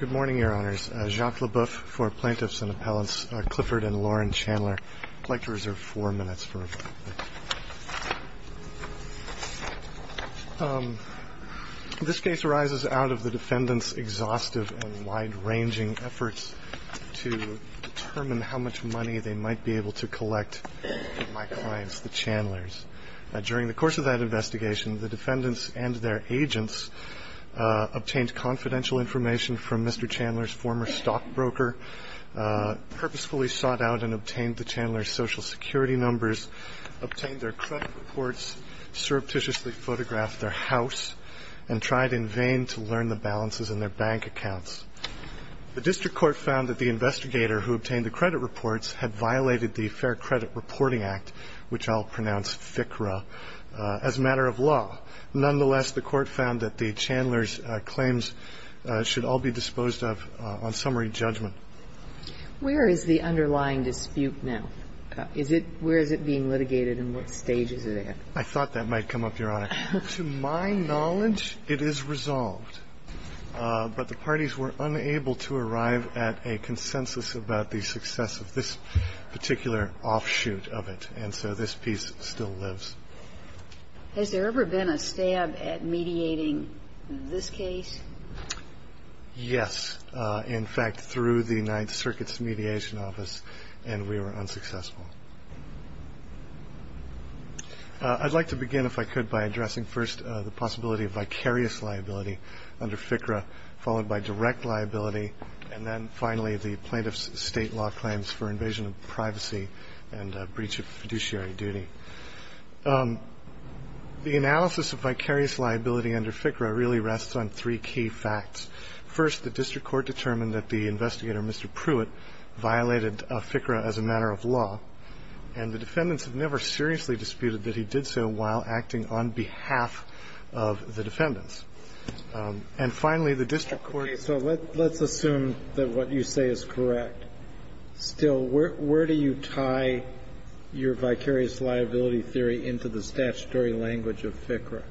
Good morning, Your Honors. Jacques Leboeuf for Plaintiffs and Appellants Clifford and Lauren Chandler. I'd like to reserve four minutes for a moment. This case arises out of the defendants' exhaustive and wide-ranging efforts to determine how much money they might be able to collect from my clients, the Chandlers. During the course of that investigation, the defendants and their agents obtained confidential information from Mr. Chandler's former stockbroker, purposefully sought out and obtained the Chandlers' Social Security numbers, obtained their credit reports, surreptitiously photographed their house, and tried in vain to learn the balances in their bank accounts. The district court found that the investigator who obtained the credit reports had violated the Fair Credit Reporting Act, which I'll pronounce FICRA, as a matter of law. Nonetheless, the court found that the Chandlers' claims should all be disposed of on summary judgment. Where is the underlying dispute now? Is it – where is it being litigated and what stages is it at? I thought that might come up, Your Honor. To my knowledge, it is resolved. But the parties were unable to arrive at a consensus about the success of this particular offshoot of it, and so this piece still lives. Has there ever been a stab at mediating this case? Yes. In fact, through the Ninth Circuit's mediation office, and we were unsuccessful. I'd like to begin, if I could, by addressing first the possibility of vicarious liability under FICRA, followed by direct liability, and then finally the plaintiff's state law claims for invasion of privacy and breach of fiduciary duty. The analysis of vicarious liability under FICRA really rests on three key facts. First, the district court determined that the investigator, Mr. Pruitt, violated FICRA as a matter of law, and the defendants have never seriously disputed that he did so while acting on behalf of the defendants. And finally, the district court determined that the defendant, Mr. Pruitt, violated FICRA as a matter of law, and of the defendants. Okay. So let's assume that what you say is correct. Still, where do you tie your vicarious liability theory into the statutory language of FICRA?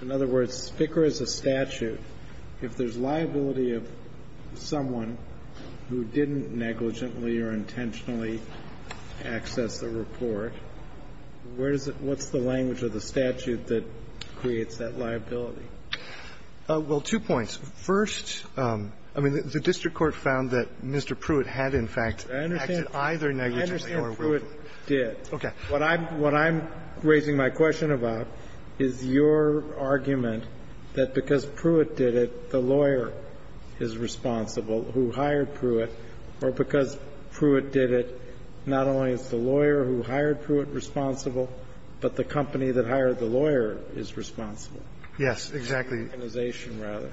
In other words, FICRA is a statute. If there's liability of someone who didn't negligently or intentionally access the report, where does it – what's the language of the statute that creates that liability? Well, two points. First, I mean, the district court found that Mr. Pruitt had, in fact, acted either negligently or willfully. I understand Pruitt did. Okay. What I'm raising my question about is your argument that because Pruitt did it, the lawyer is responsible, who hired Pruitt, or because Pruitt did it, not only is the lawyer who hired Pruitt responsible, but the company that hired the lawyer is responsible. Yes, exactly. Organization, rather.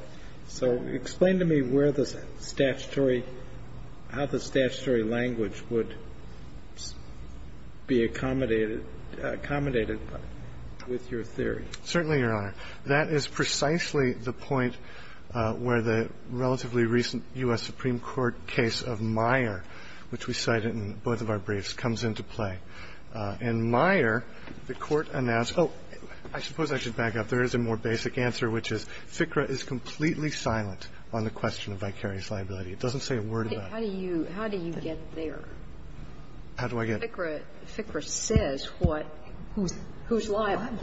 So explain to me where the statutory – how the statutory language would be accommodated – accommodated with your theory. Certainly, Your Honor. That is precisely the point where the relatively recent U.S. Supreme Court case of Meyer, which we cited in both of our briefs, comes into play. In Meyer, the Court announced – oh, I suppose I should back up. There is a more basic answer, which is FICRA is completely silent on the question of vicarious liability. It doesn't say a word about it. How do you – how do you get there? How do I get? FICRA says what – who's liable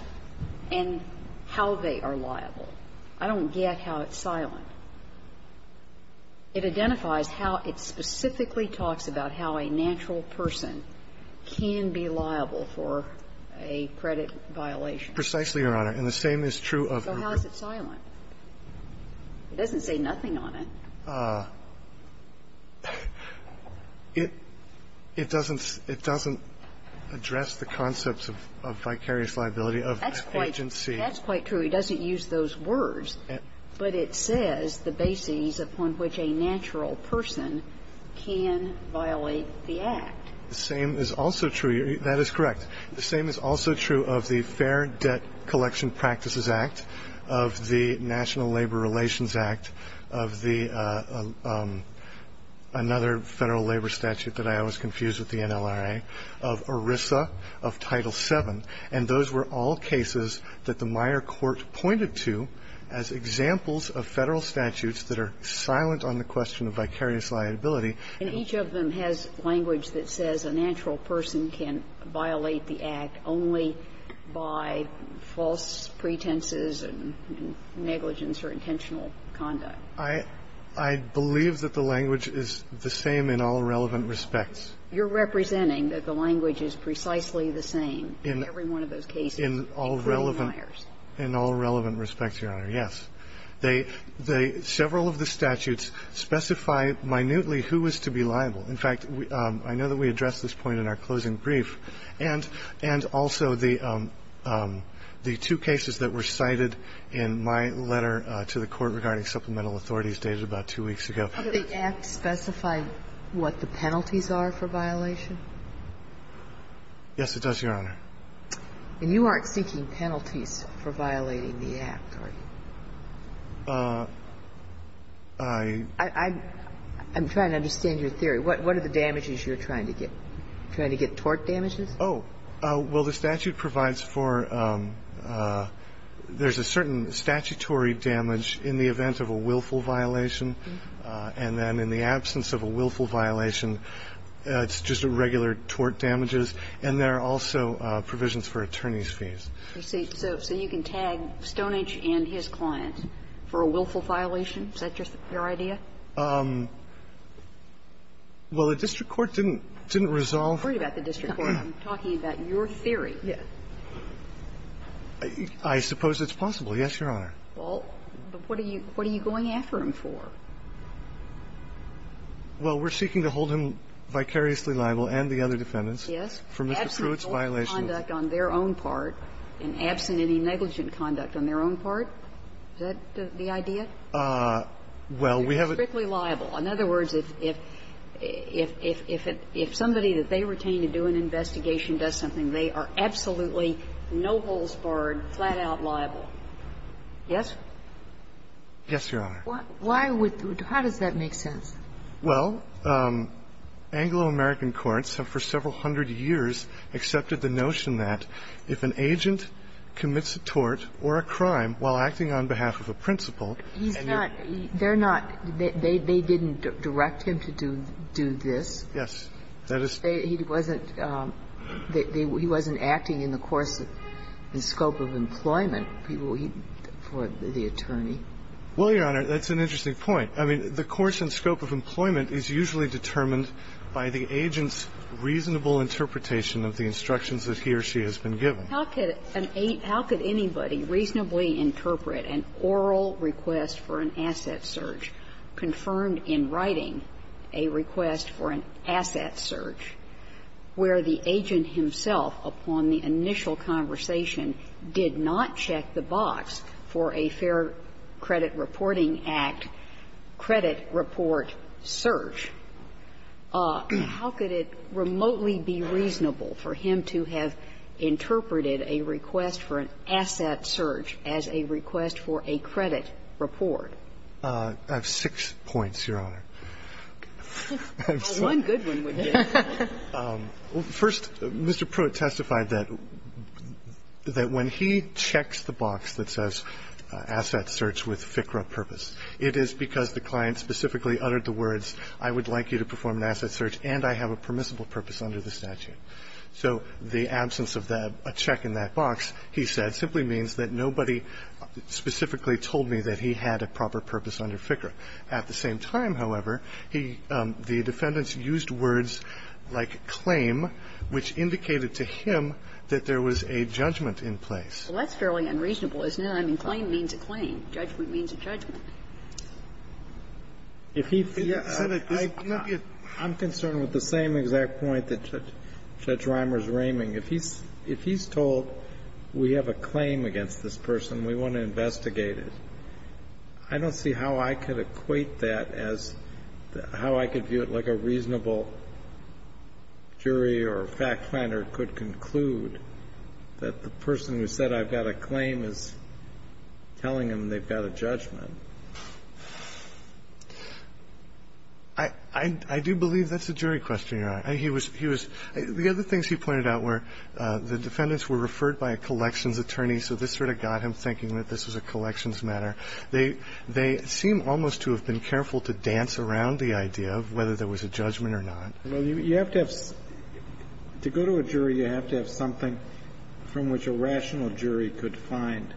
and how they are liable. I don't get how it's silent. It identifies how it specifically talks about how a natural person can be liable for a credit violation. Precisely, Your Honor. And the same is true of – So how is it silent? It doesn't say nothing on it. It doesn't – it doesn't address the concepts of vicarious liability of agency. That's quite true. It doesn't use those words. But it says the basis upon which a natural person can violate the Act. The same is also true – that is correct. The same is also true of the Fair Debt Collection Practices Act, of the National Labor Relations Act, of the – another Federal labor statute that I always confuse with the NLRA, of ERISA, of Title VII. And those were all cases that the Meyer Court pointed to as examples of Federal statutes that are silent on the question of vicarious liability. And each of them has language that says a natural person can violate the Act only by false pretenses and negligence or intentional conduct. I believe that the language is the same in all relevant respects. You're representing that the language is precisely the same in every one of those cases, including Myers. In all relevant – in all relevant respects, Your Honor, yes. They – several of the statutes specify minutely who is to be liable. In fact, I know that we addressed this point in our closing brief. And also, the two cases that were cited in my letter to the Court regarding supplemental authorities dated about two weeks ago. Do the Act specify what the penalties are for violation? Yes, it does, Your Honor. And you aren't seeking penalties for violating the Act, are you? I'm trying to understand your theory. What are the damages you're trying to get? Trying to get tort damages? Oh. Well, the statute provides for – there's a certain statutory damage in the event of a willful violation. And then in the absence of a willful violation, it's just a regular tort damages. And there are also provisions for attorney's fees. So you can tag Stoneage and his client for a willful violation? Is that just your idea? Well, the district court didn't resolve – I'm not talking about the district court. I'm talking about your theory. I suppose it's possible, yes, Your Honor. Well, but what are you going after him for? Well, we're seeking to hold him vicariously liable and the other defendants for Mr. Pruitt's violations. Yes, and absent any negligent conduct on their own part, is that the idea? Well, we have a – He's strictly liable. In other words, if somebody that they retain to do an investigation does something, they are absolutely no-holes-barred, flat-out liable. Yes? Yes, Your Honor. Why would – how does that make sense? Well, Anglo-American courts have for several hundred years accepted the notion that if an agent commits a tort or a crime while acting on behalf of a principal, he's not – they're not – they didn't direct him to do this. Yes, that is – He wasn't – he wasn't acting in the course and scope of employment for the attorney. Well, Your Honor, that's an interesting point. I mean, the course and scope of employment is usually determined by the agent's reasonable interpretation of the instructions that he or she has been given. How could an – how could anybody reasonably interpret an oral request for an asset search confirmed in writing a request for an asset search where the agent himself upon the initial conversation did not check the box for a Fair Credit Reporting Act credit report search? How could it remotely be reasonable for him to have interpreted a request for an asset search as a request for a credit report? I have six points, Your Honor. One good one would be. First, Mr. Pruitt testified that when he checks the box that says asset search with FCRA purpose, it is because the client specifically uttered the words, I would like you to perform an asset search, and I have a permissible purpose under the statute. So the absence of that – a check in that box, he said, simply means that nobody specifically told me that he had a proper purpose under FCRA. At the same time, however, he – the defendants used words like claim, which indicated to him that there was a judgment in place. Well, that's fairly unreasonable, isn't it? I mean, claim means a claim. Judgment means a judgment. If he – I'm concerned with the same exact point that Judge Reimer is raiming. If he's told we have a claim against this person, we want to investigate it, I don't see how I could equate that as – how I could view it like a reasonable jury or fact finder could conclude that the person who said, I've got a claim is telling him they've got a judgment. I do believe that's a jury question, Your Honor. He was – the other things he pointed out were the defendants were referred by a collections attorney, so this sort of got him thinking that this was a collections matter. They seem almost to have been careful to dance around the idea of whether there was a judgment or not. Well, you have to have – to go to a jury, you have to have something from which a rational jury could find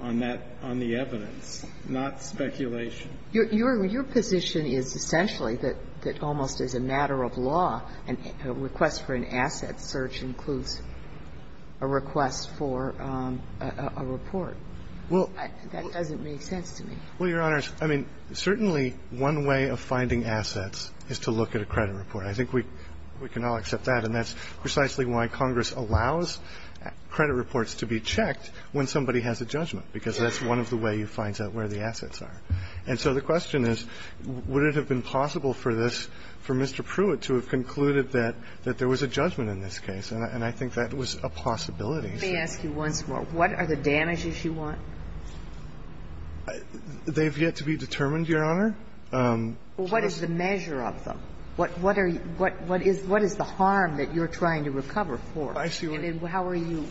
on that – on the evidence, not speculation. Your position is essentially that almost as a matter of law, a request for an asset search includes a request for a report. Well – That doesn't make sense to me. Well, Your Honors, I mean, certainly one way of finding assets is to look at a credit report. I think we can all accept that, and that's precisely why Congress allows credit reports to be checked when somebody has a judgment, because that's one of the ways you find out where the assets are. And so the question is, would it have been possible for this – for Mr. Pruitt to have concluded that there was a judgment in this case? And I think that was a possibility. Let me ask you once more. What are the damages you want? They've yet to be determined, Your Honor. Well, what is the measure of them? I see what you're saying. And how are you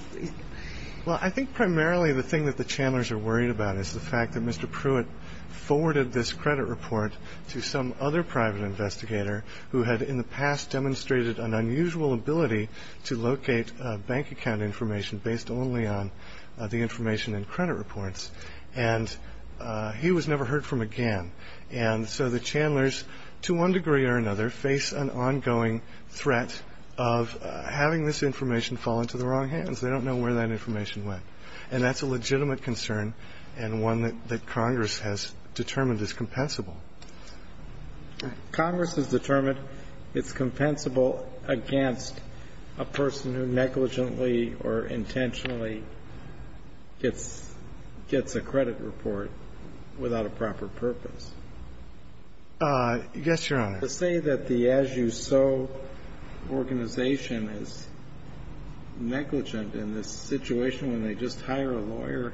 – Well, I think primarily the thing that the Chandlers are worried about is the fact that Mr. Pruitt forwarded this credit report to some other private investigator who had in the past demonstrated an unusual ability to locate bank account information based only on the information in credit reports. And he was never heard from again. And so the Chandlers, to one degree or another, face an ongoing threat of having this information fall into the wrong hands. They don't know where that information went. And that's a legitimate concern and one that Congress has determined is compensable. Congress has determined it's compensable against a person who negligently or intentionally gets a credit report without a proper purpose. Yes, Your Honor. To say that the As You Sow organization is negligent in this situation when they just hire a lawyer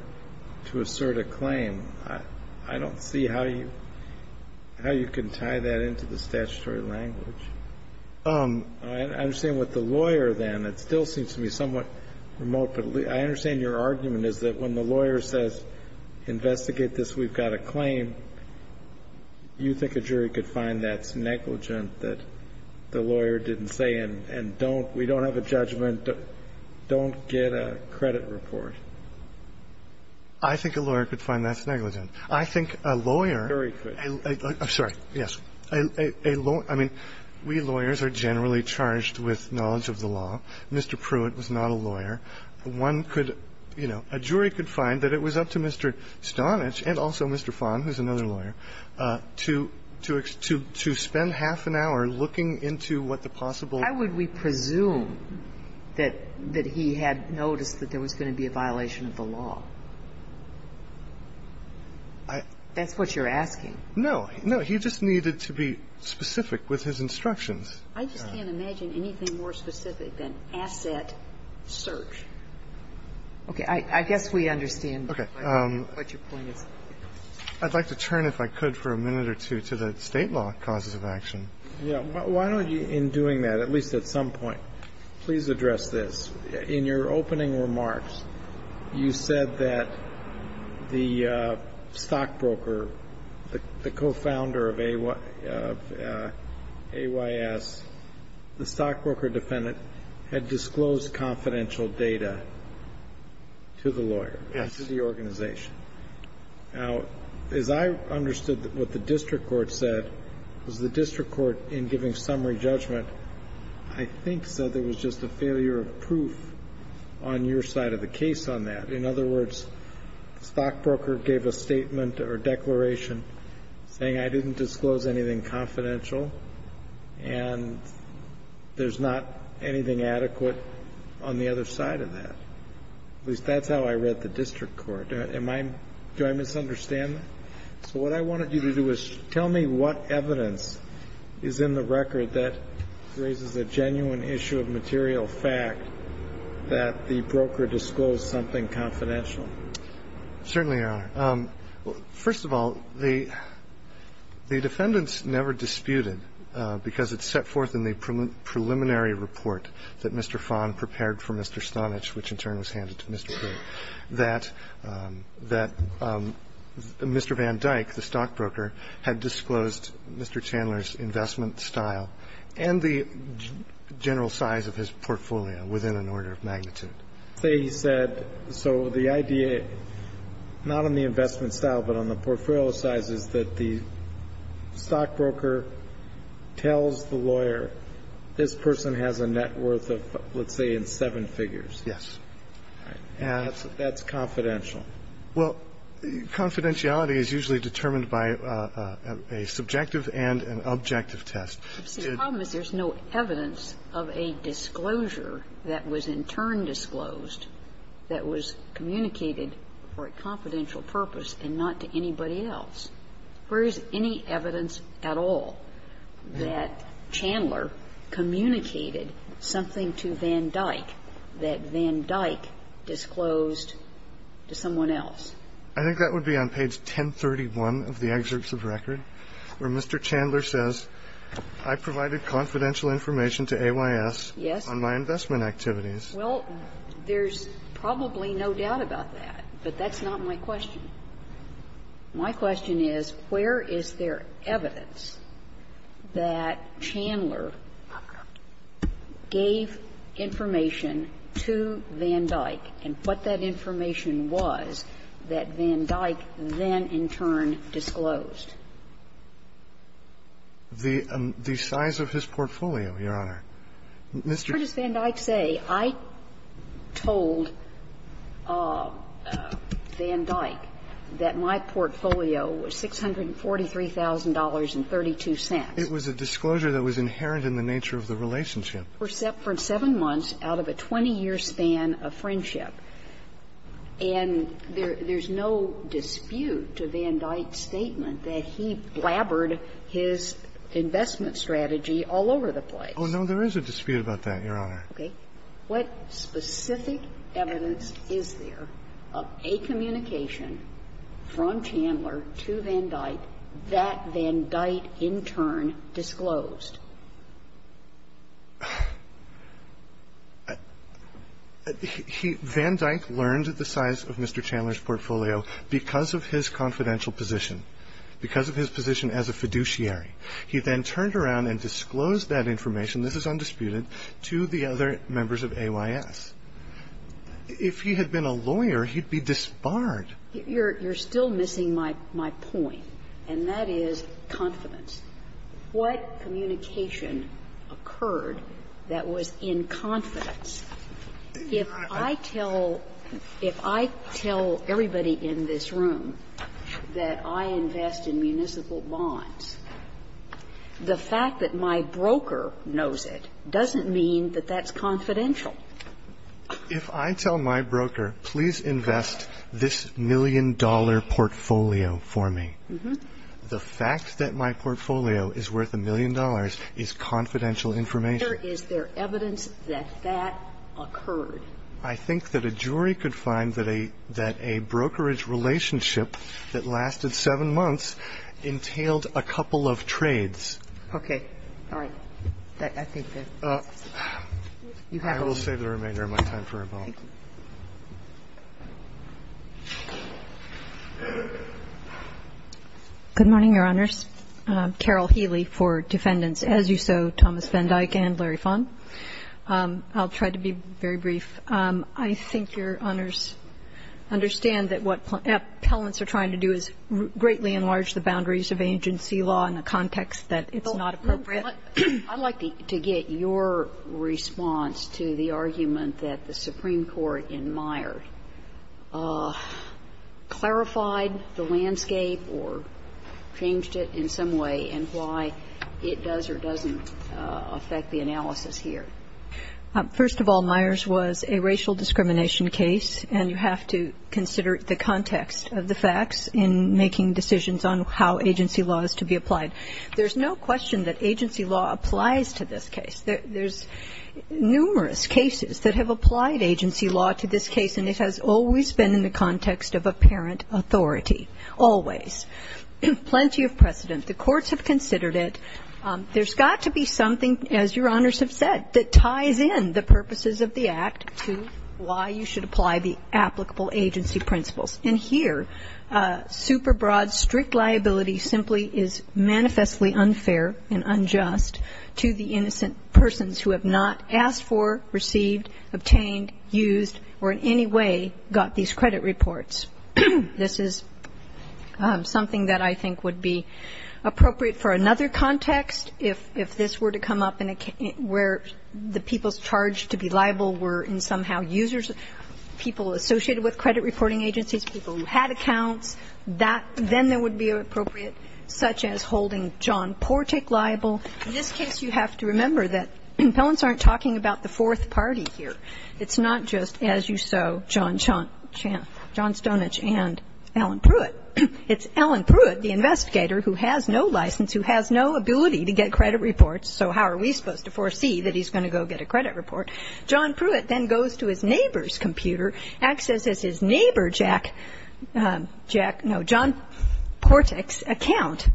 to assert a claim, I don't see how you can tie that into the statutory language. I understand what the lawyer then – it still seems to me somewhat remote, but I understand your argument is that when the lawyer says, investigate this, we've got a claim, you think a jury could find that's negligent, that the lawyer didn't say, and don't – we don't have a judgment, don't get a credit report? I think a lawyer could find that's negligent. I think a lawyer could – I'm sorry, yes. A lawyer – I mean, we lawyers are generally charged with knowledge of the law. Mr. Pruitt was not a lawyer. One could – you know, a jury could find that it was up to Mr. Stonich and also Mr. Fahn, who's another lawyer, to – to spend half an hour looking into what the possible I would we presume that he had noticed that there was going to be a violation of the law? That's what you're asking. No. No. He just needed to be specific with his instructions. I just can't imagine anything more specific than asset search. Okay. I guess we understand what your point is. I'd like to turn, if I could for a minute or two, to the state law causes of action. Yeah. Why don't you, in doing that, at least at some point, please address this. In your opening remarks, you said that the stockbroker, the co-founder of AYS, the stockbroker defendant had disclosed confidential data to the lawyer, to the organization. Now, as I understood what the district court said, was the district court, in giving summary judgment, I think said there was just a failure of proof on your side of the case on that. In other words, the stockbroker gave a statement or declaration saying, I didn't disclose anything confidential, and there's not anything adequate on the other side of that. At least that's how I read the district court. Do I misunderstand that? So what I wanted you to do is tell me what evidence is in the record that raises a genuine issue of material fact that the broker disclosed something confidential. Certainly, Your Honor. First of all, the defendants never disputed, because it's set forth in the preliminary report that Mr. Fahn prepared for Mr. Stonich, which in turn was handed to Mr. Gray, that Mr. Van Dyke, the stockbroker, had disclosed Mr. Chandler's investment style and the general size of his portfolio within an order of magnitude. They said, so the idea, not on the investment style, but on the portfolio size, is that the stockbroker tells the lawyer, this person has a net worth of, let's say, in seven figures. Yes. And that's confidential. Well, confidentiality is usually determined by a subjective and an objective test. The problem is there's no evidence of a disclosure that was in turn disclosed that was communicated for a confidential purpose and not to anybody else. Where is any evidence at all that Chandler communicated something to Van Dyke that Van Dyke disclosed to someone else? I think that would be on page 1031 of the excerpts of record, where Mr. Chandler says, I provided confidential information to AYS on my investment activities. Well, there's probably no doubt about that, but that's not my question. My question is, where is there evidence that Chandler gave information to Van Dyke and what that information was that Van Dyke then in turn disclosed? The size of his portfolio, Your Honor. Mr. Van Dyke said, I disclosed it to Van Dyke. I disclosed it to Van Dyke, but I also told Van Dyke that my portfolio was $643,000 and 32 cents. It was a disclosure that was inherent in the nature of the relationship. Except for seven months out of a 20-year span of friendship. And there's no dispute to Van Dyke's statement that he blabbered his investment strategy all over the place. Oh, no, there is a dispute about that, Your Honor. Okay. What specific evidence is there of a communication from Chandler to Van Dyke that Van Dyke in turn disclosed? He – Van Dyke learned the size of Mr. Chandler's portfolio because of his confidential position, because of his position as a fiduciary. He then turned around and disclosed that information, this is undisputed, to the other members of AYS. If he had been a lawyer, he'd be disbarred. You're still missing my point, and that is confidence. What communication occurred that was in confidence? If I tell – if I tell everybody in this room that I invest in municipal bonds, the fact that my broker knows it doesn't mean that that's confidential. If I tell my broker, please invest this million-dollar portfolio for me, the fact that my portfolio is worth a million dollars is confidential information. Is there evidence that that occurred? I think that a jury could find that a – that a brokerage relationship that lasted seven months entailed a couple of trades. Okay. All right. I think that's – you have all the time. I will save the remainder of my time for a moment. Good morning, Your Honors. Carol Healy for defendants as you so, Thomas Van Dyke and Larry Fon. I'll try to be very brief. I think Your Honors understand that what appellants are trying to do is greatly enlarge the boundaries of agency law in a context that it's not appropriate. I'd like to get your response to the argument that the Supreme Court in Meyer clarified the landscape or changed it in some way and why it does or doesn't affect the analysis here. First of all, Myers was a racial discrimination case and you have to consider the context of the facts in making decisions on how agency law is to be applied. There's no question that agency law applies to this case. There's numerous cases that have applied agency law to this case and it has always been in the context of apparent authority, always. Plenty of precedent. The courts have considered it. There's got to be something, as Your Honors have said, that ties in the purposes of the act to why you should apply the applicable agency principles. And here, super broad, strict liability simply is manifestly unfair and unjust to the innocent persons who have not asked for, received, obtained, used, or in any way got these credit reports. This is something that I think would be appropriate for another context if this were to come up in a case where the people charged to be liable were somehow users, people associated with credit reporting agencies, people who had accounts. Then there would be appropriate, such as holding John Portek liable. In this case, you have to remember that Pellants aren't talking about the fourth party here. It's not just, as you so, John Stonich and Alan Pruitt. It's Alan Pruitt, the investigator, who has no license, who has no ability to get credit reports, so how are we supposed to foresee that he's going to go get a credit report? John Pruitt then goes to his neighbor's computer, accesses his neighbor, Jack, Jack, no, John Portek's account,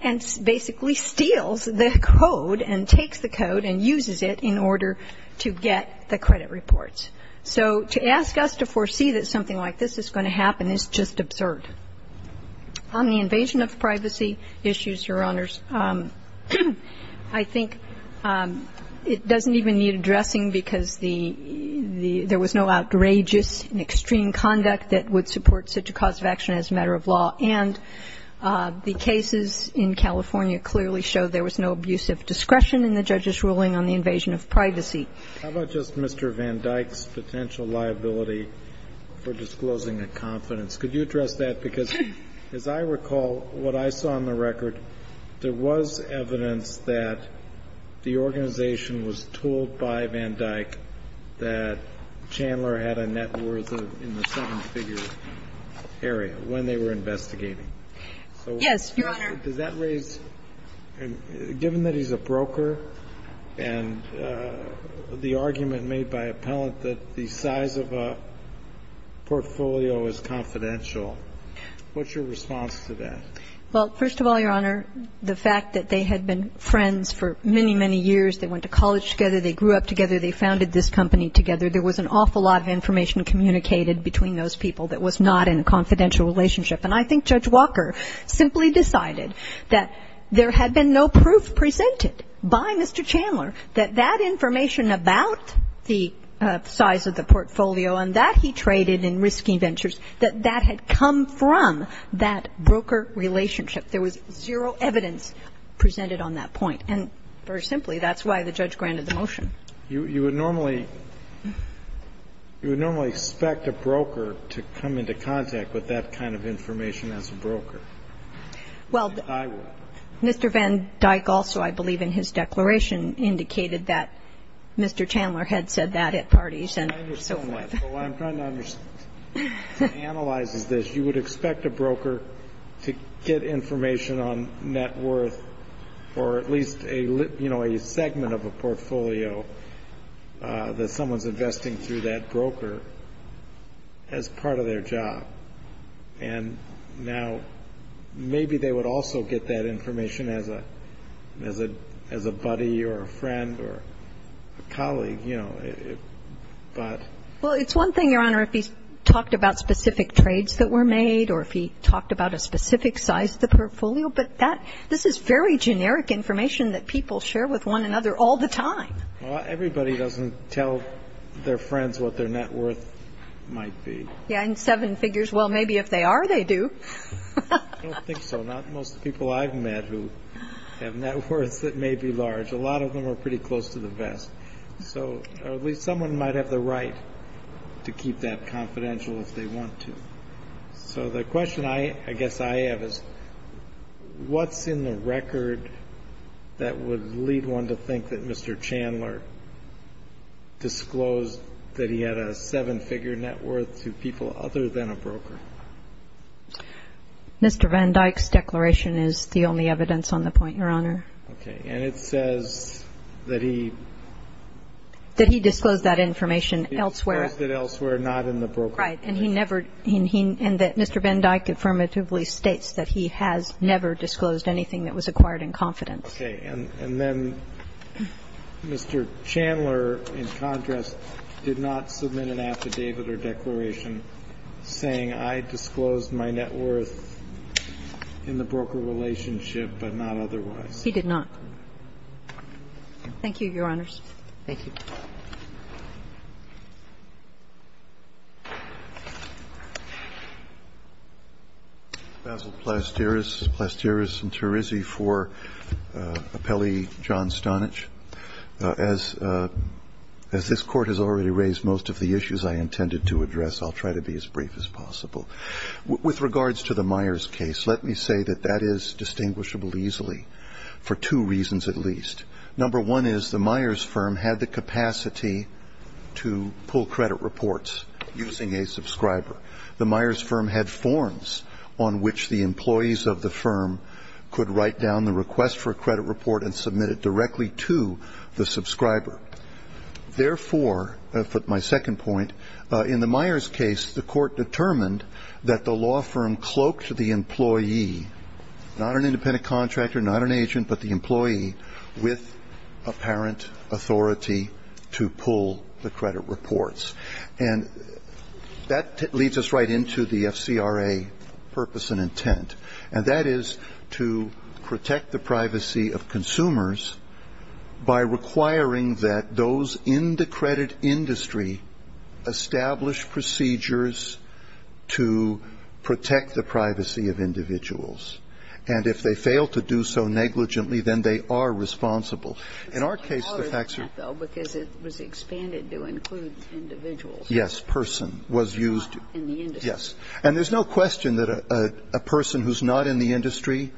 and basically steals the code and takes the code and uses it in order to get the credit reports. So to ask us to foresee that something like this is going to happen is just absurd. On the invasion of privacy issues, Your Honors, I think it doesn't even need addressing because there was no outrageous and extreme conduct that would support such a cause of action as a matter of law, and the cases in California clearly show there was no abuse of discretion in the judge's ruling on the invasion of privacy. How about just Mr. Van Dyck's potential liability for disclosing a confidence? Could you address that? Because as I recall, what I saw on the record, there was evidence that the organization was told by Van Dyck that Chandler had a net worth in the seven-figure area when they were investigating. Yes, Your Honor. Does that raise, given that he's a broker and the argument made by appellant that the size of a portfolio is confidential, what's your response to that? Well, first of all, Your Honor, the fact that they had been friends for many, many years, they went to college together, they grew up together, they founded this company together, there was an awful lot of information communicated between those people that was not in a confidential relationship. And I think Judge Walker simply decided that there had been no proof presented by Mr. Chandler that that information about the size of the portfolio and that he traded in risky ventures, that that had come from that broker relationship. There was zero evidence presented on that point. And very simply, that's why the judge granted the motion. You would normally expect a broker to come into contact with that kind of information. And that's why I'm trying to analyze this, you would expect a broker to get information on net worth or at least a, you know, a segment of a portfolio that someone's investing through that broker as part of their job. Now, maybe they would also get that information as a buddy or a friend or a colleague, you know, but. Well, it's one thing, Your Honor, if he's talked about specific trades that were made or if he talked about a specific size of the portfolio, but that, this is very generic information that people share with one another all the time. Well, everybody doesn't tell their friends what their net worth might be. Yeah, and seven figures. Well, maybe if they are, they do. I don't think so. Not most people I've met who have net worths that may be large. A lot of them are pretty close to the vest. So at least someone might have the right to keep that confidential if they want to. So the question I guess I have is, what's in the record that would lead one to think that Mr. Chandler disclosed that he had a seven-figure net worth to people other than a broker? Mr. Van Dyke's declaration is the only evidence on the point, Your Honor. Okay, and it says that he. That he disclosed that information elsewhere. He disclosed it elsewhere, not in the broker. Right, and he never, and that Mr. Van Dyke affirmatively states that he has never disclosed anything that was acquired in confidence. Okay, and then Mr. Chandler, in contrast, did not submit an affidavit or declaration saying I disclosed my net worth in the broker relationship, but not otherwise. He did not. Thank you, Your Honors. Thank you. Basil Plasteris, Plasteris and Terizzi for appellee John Stonich. As this Court has already raised most of the issues I intended to address, I'll try to be as brief as possible. With regards to the Myers case, let me say that that is distinguishable easily for two reasons at least. Number one is the Myers firm had the capacity to pull credit reports using a subscriber. The Myers firm had forms on which the employees of the firm could write down the request for a credit report and submit it directly to the subscriber. Therefore, for my second point, in the Myers case, the Court determined that the law firm cloaked the employee, not an independent contractor, not an agent, but the employee with apparent authority to pull the credit reports. And that leads us right into the FCRA purpose and intent. And that is to protect the privacy of consumers by requiring that those in the credit industry establish procedures to protect the privacy of individuals. And if they fail to do so negligently, then they are responsible. In our case, the facts are- Because it was expanded to include individuals. Yes, person was used. In the industry. Yes. And there's no question that a person who's not in the industry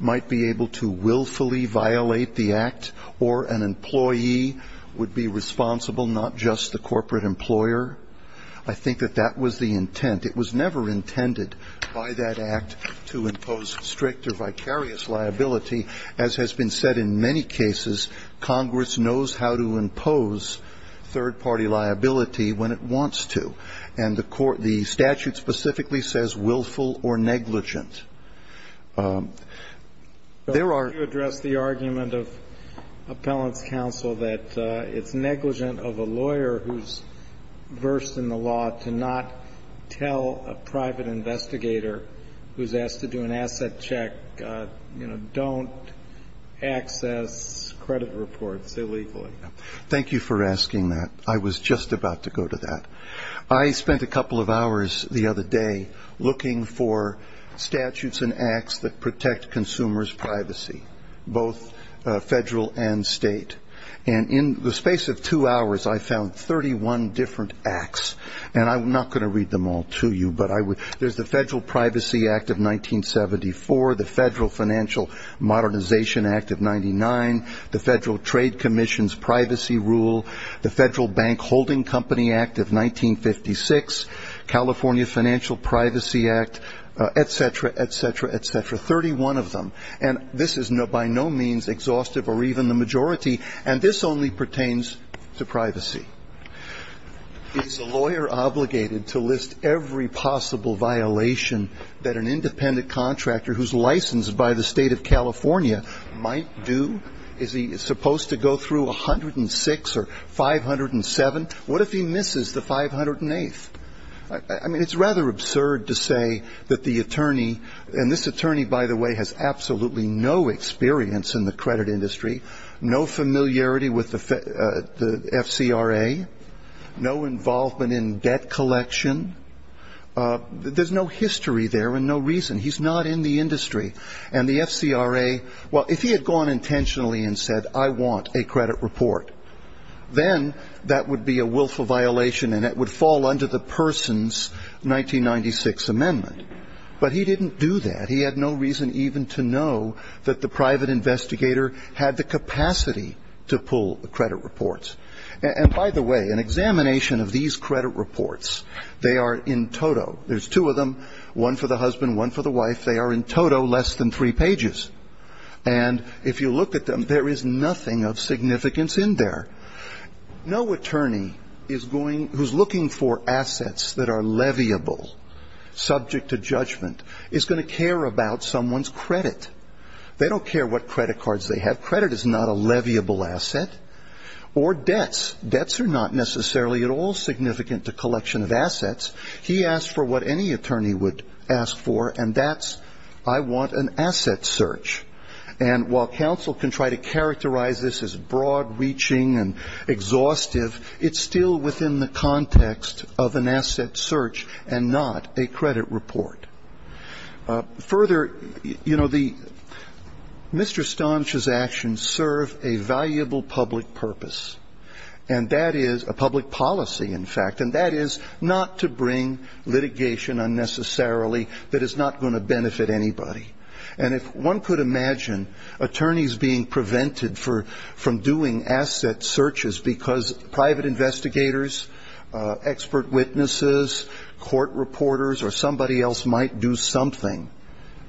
might be able to willfully violate the act, or an employee would be responsible, not just the corporate employer. I think that that was the intent. It was never intended by that act to impose strict or vicarious liability. As has been said in many cases, Congress knows how to impose third-party liability when it wants to. And the statute specifically says willful or negligent. There are- You addressed the argument of Appellant's counsel that it's negligent of a lawyer who's versed in the law to not tell a private investigator who's asked to do an asset check, you know, don't access credit reports illegally. Thank you for asking that. I was just about to go to that. I spent a couple of hours the other day looking for statutes and acts that protect consumers' privacy, both federal and state. And in the space of two hours, I found 31 different acts. And I'm not going to read them all to you, but I would- There's the Federal Privacy Act of 1974, the Federal Financial Modernization Act of 99, the Federal Trade Commission's Privacy Rule, the Federal Bank Holding Company Act of 1956, California Financial Privacy Act, et cetera, et cetera, et cetera. Thirty-one of them. And this is by no means exhaustive or even the majority. And this only pertains to privacy. Is a lawyer obligated to list every possible violation that an independent contractor who's licensed by the state of California might do? Is he supposed to go through 106 or 507? What if he misses the 508th? I mean, it's rather absurd to say that the attorney- And this attorney, by the way, has absolutely no experience in the credit industry, no familiarity with the FCRA, no involvement in debt collection. There's no history there and no reason. He's not in the industry. And the FCRA- Well, if he had gone intentionally and said, I want a credit report, then that would be a willful violation and it would fall under the person's 1996 amendment. But he didn't do that. He had no reason even to know that the private investigator had the capacity to pull the credit reports. And by the way, an examination of these credit reports, they are in toto. There's two of them, one for the husband, one for the wife. They are in toto less than three pages. And if you look at them, there is nothing of significance in there. No attorney who's looking for assets that are leviable, subject to judgment, is going to care about someone's credit. They don't care what credit cards they have. Credit is not a leviable asset. Or debts, debts are not necessarily at all significant to collection of assets. He asked for what any attorney would ask for, and that's, I want an asset search. And while counsel can try to characterize this as broad reaching and exhaustive, it's still within the context of an asset search and not a credit report. Further, Mr. Stonshaw's actions serve a valuable public purpose. And that is a public policy, in fact, and that is not to bring litigation unnecessarily that is not going to benefit anybody. And if one could imagine attorneys being prevented from doing asset searches because private investigators, expert witnesses, court reporters, or somebody else might do something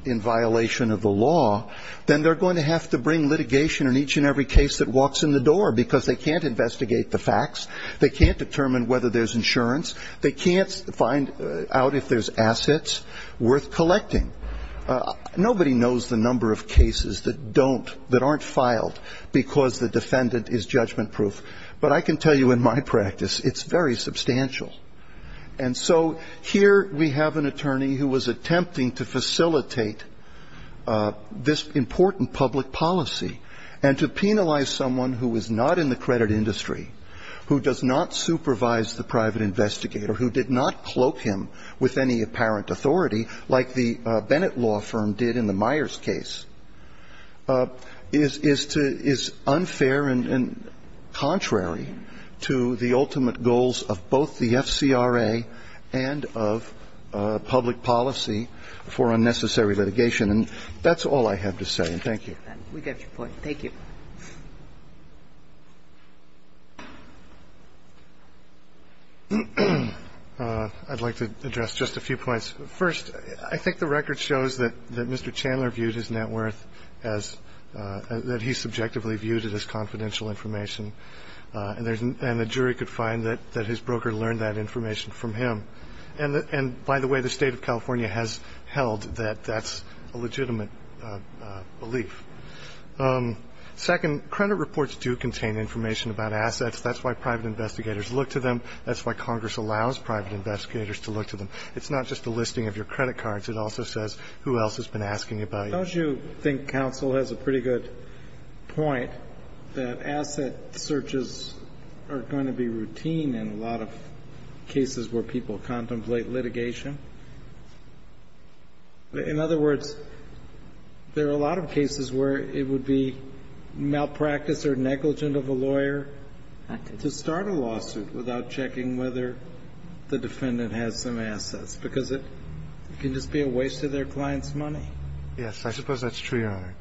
in violation of the law, then they're going to have to bring litigation in each and the door because they can't investigate the facts. They can't determine whether there's insurance. They can't find out if there's assets worth collecting. Nobody knows the number of cases that don't, that aren't filed because the defendant is judgment proof. But I can tell you in my practice, it's very substantial. And so here we have an attorney who was attempting to facilitate this important public policy. And to penalize someone who is not in the credit industry, who does not supervise the private investigator, who did not cloak him with any apparent authority, like the Bennett law firm did in the Myers case, is unfair and contrary to the ultimate goals of both the FCRA and the FCCRA in terms of public policy for unnecessary litigation. And that's all I have to say, and thank you. We get your point. Thank you. I'd like to address just a few points. First, I think the record shows that Mr. Chandler viewed his net worth as, that he subjectively viewed it as confidential information. And the jury could find that his broker learned that information from him. And by the way, the state of California has held that that's a legitimate belief. Second, credit reports do contain information about assets. That's why private investigators look to them. That's why Congress allows private investigators to look to them. It's not just a listing of your credit cards. It also says who else has been asking about you. Don't you think counsel has a pretty good point that asset searches are going to be routine in a lot of cases where people contemplate litigation? In other words, there are a lot of cases where it would be malpractice or negligent of a lawyer to start a lawsuit without checking whether the defendant has some assets, because it can just be a waste of their client's money. Yes, I suppose that's true, Your Honor.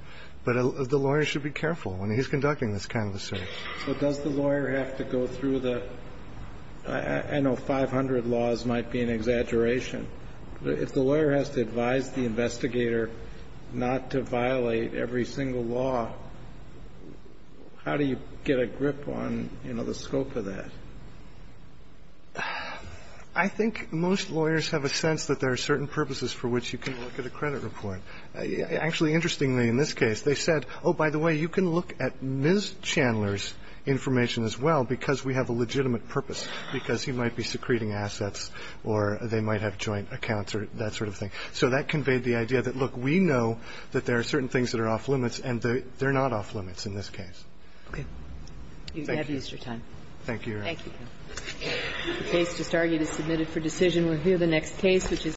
But the lawyer should be careful when he's conducting this kind of a search. So does the lawyer have to go through the – I know 500 laws might be an exaggeration. If the lawyer has to advise the investigator not to violate every single law, how do you get a grip on, you know, the scope of that? I think most lawyers have a sense that there are certain purposes for which you can look at a credit report. Actually, interestingly, in this case, they said, oh, by the way, you can look at Ms. Chandler's information as well, because we have a legitimate purpose, because he might be secreting assets or they might have joint accounts or that sort of thing. So that conveyed the idea that, look, we know that there are certain things that are off-limits, and they're not off-limits in this case. Okay. Thank you. You have used your time. Thank you, Your Honor. Thank you. The case just argued is submitted for decision. We'll hear the next case, which is